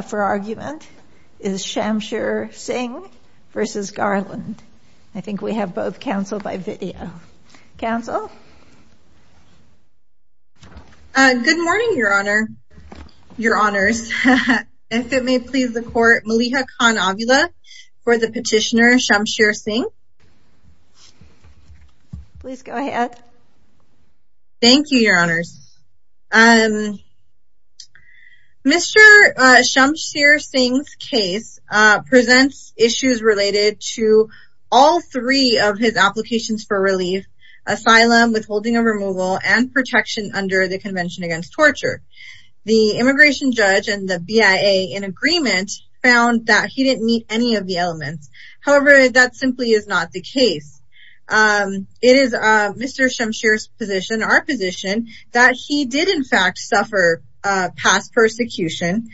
for argument is Shamsher Singh v. Merrick Garland. I think we have both cancelled by video. Council? Good morning, Your Honours. If it may please the Court, Maliha Khan-Avila for the petitioner Shamsher Singh. Please go ahead. Thank you, Your Honours. Mr. Shamsher Singh's case presents issues related to all three of his applications for relief, asylum, withholding of removal, and protection under the Convention Against Torture. The immigration judge and the BIA, in agreement, found that he didn't meet any of the elements. However, that simply is not the case. It is Mr. Shamsher's position, our position, that he did, in fact, suffer past persecution.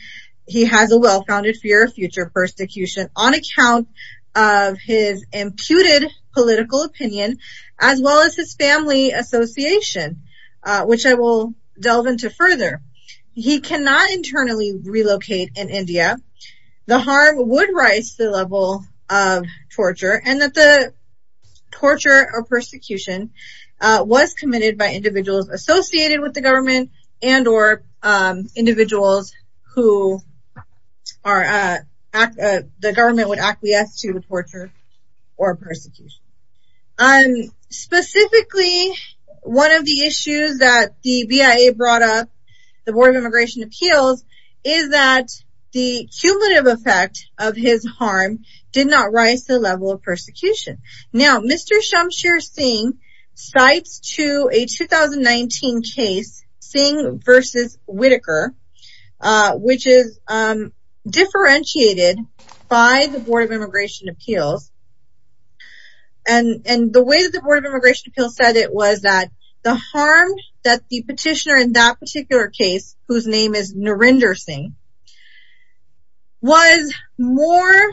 He has a well-founded fear of future persecution on account of his imputed political opinion, as well as his family association, which I will delve into further. He cannot internally relocate in India. The harm would the level of torture and that the torture or persecution was committed by individuals associated with the government and or individuals who the government would acquiesce to the torture or persecution. Specifically, one of the issues that the BIA brought up, the Board of Immigration harm, did not rise to the level of persecution. Now, Mr. Shamsher Singh cites to a 2019 case, Singh v. Whitaker, which is differentiated by the Board of Immigration Appeals. And the way that the Board of Immigration Appeals said it was that the harm that the petitioner in that particular case, whose name is Narendra Singh, was more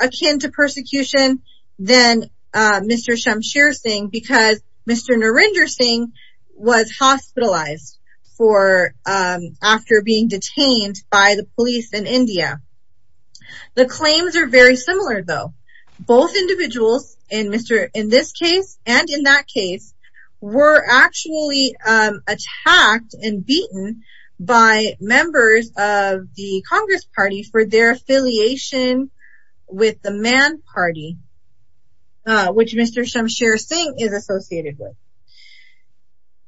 akin to persecution than Mr. Shamsher Singh because Mr. Narendra Singh was hospitalized after being detained by the police in India. The claims are very similar, though. Both individuals in this case and in that case were actually attacked and beaten by members of the Congress Party for their affiliation with the Man Party, which Mr. Shamsher Singh is associated with.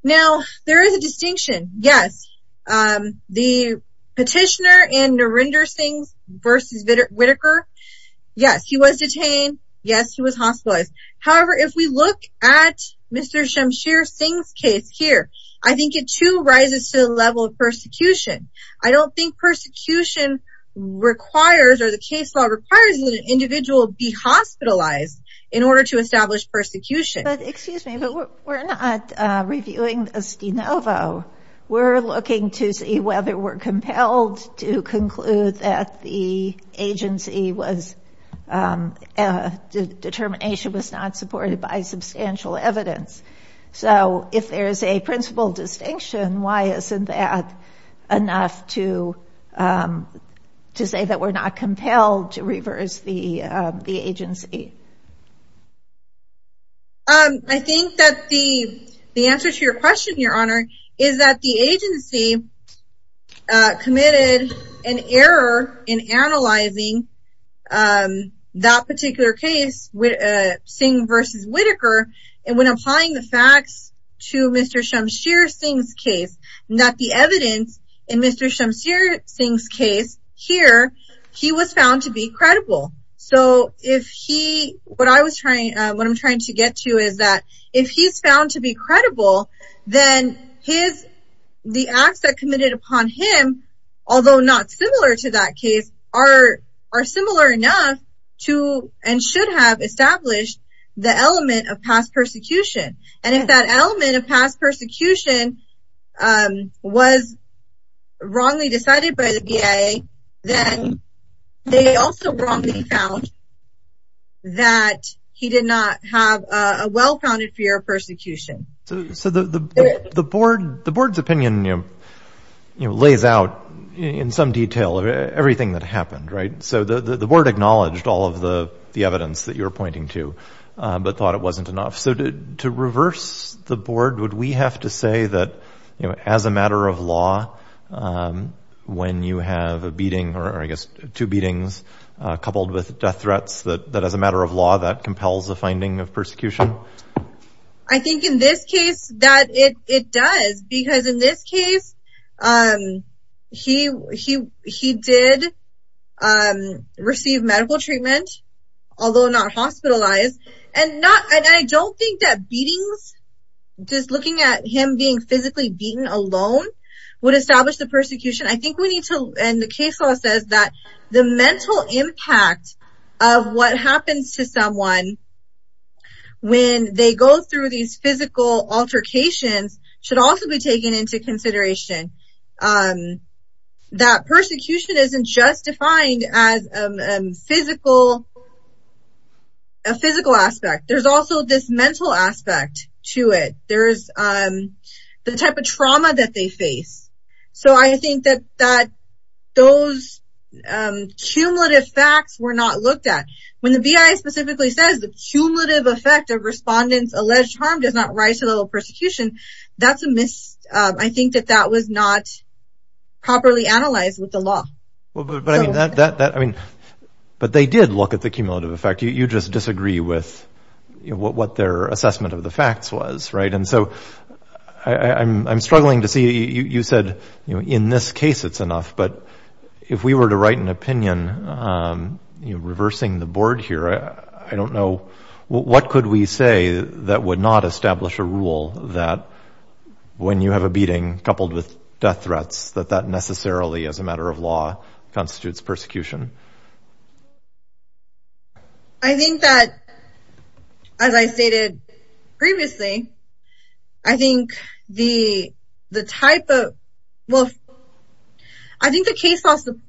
Now, there is a distinction. Yes, the petitioner in Narendra Singh v. Whitaker, yes, he was detained. Yes, he was hospitalized. However, if we look at Mr. Shamsher Singh's case here, I think it, too, rises to the level of persecution. I don't think persecution requires, or the case law requires, that an individual be hospitalized in order to establish persecution. Excuse me, but we're not reviewing this de novo. We're looking to see whether we're compelled to conclude that the agency was, the determination was not supported by substantial evidence. So, if there is a principal distinction, why isn't that enough to say that we're not compelled to reverse the agency? I think that the answer to your question, Your Honor, is that the agency had committed an error in analyzing that particular case, Singh v. Whitaker, and when applying the facts to Mr. Shamsher Singh's case, that the evidence in Mr. Shamsher Singh's case here, he was found to be credible. So, if he, what I was trying, what I'm trying to get to is that if he's found to be credible, then his, the acts that committed upon him, although not similar to that case, are similar enough to and should have established the element of past persecution. And if that element of past persecution was wrongly decided by the VA, then they also wrongly found that he did not have a well-founded fear of persecution. So, the Board's opinion, you know, lays out in some detail everything that happened, right? So, the Board acknowledged all of the evidence that you're pointing to, but thought it wasn't enough. So, to reverse the Board, would we have to say that, you know, as a matter of law, when you have a beating, or I guess two beatings, coupled with death threats, that as a matter of law, that compels the finding of persecution? I think in this case, that it does, because in this case, he did receive medical treatment, although not hospitalized, and not, and I don't think that beatings, just looking at him being beaten alone, would establish the persecution. I think we need to, and the case law says that the mental impact of what happens to someone when they go through these physical altercations should also be taken into consideration. That persecution isn't just defined as a physical aspect. There's also this mental aspect to it. There's the type of trauma that they face. So, I think that those cumulative facts were not looked at. When the BIA specifically says the cumulative effect of respondents' alleged harm does not rise to the level of persecution, that's a mis... I think that that was not properly analyzed with the law. Well, but I mean, that, I mean, but they did look at the cumulative effect. You just disagree with what their assessment of the facts was, right? And so, I'm struggling to see, you said, you know, in this case, it's enough, but if we were to write an opinion, you know, reversing the board here, I don't know, what could we say that would not establish a rule that when you have a beating, coupled with death threats, that that necessarily, as a matter of law, constitutes persecution? I think that, as I stated previously, I think the type of... I think the case law supports...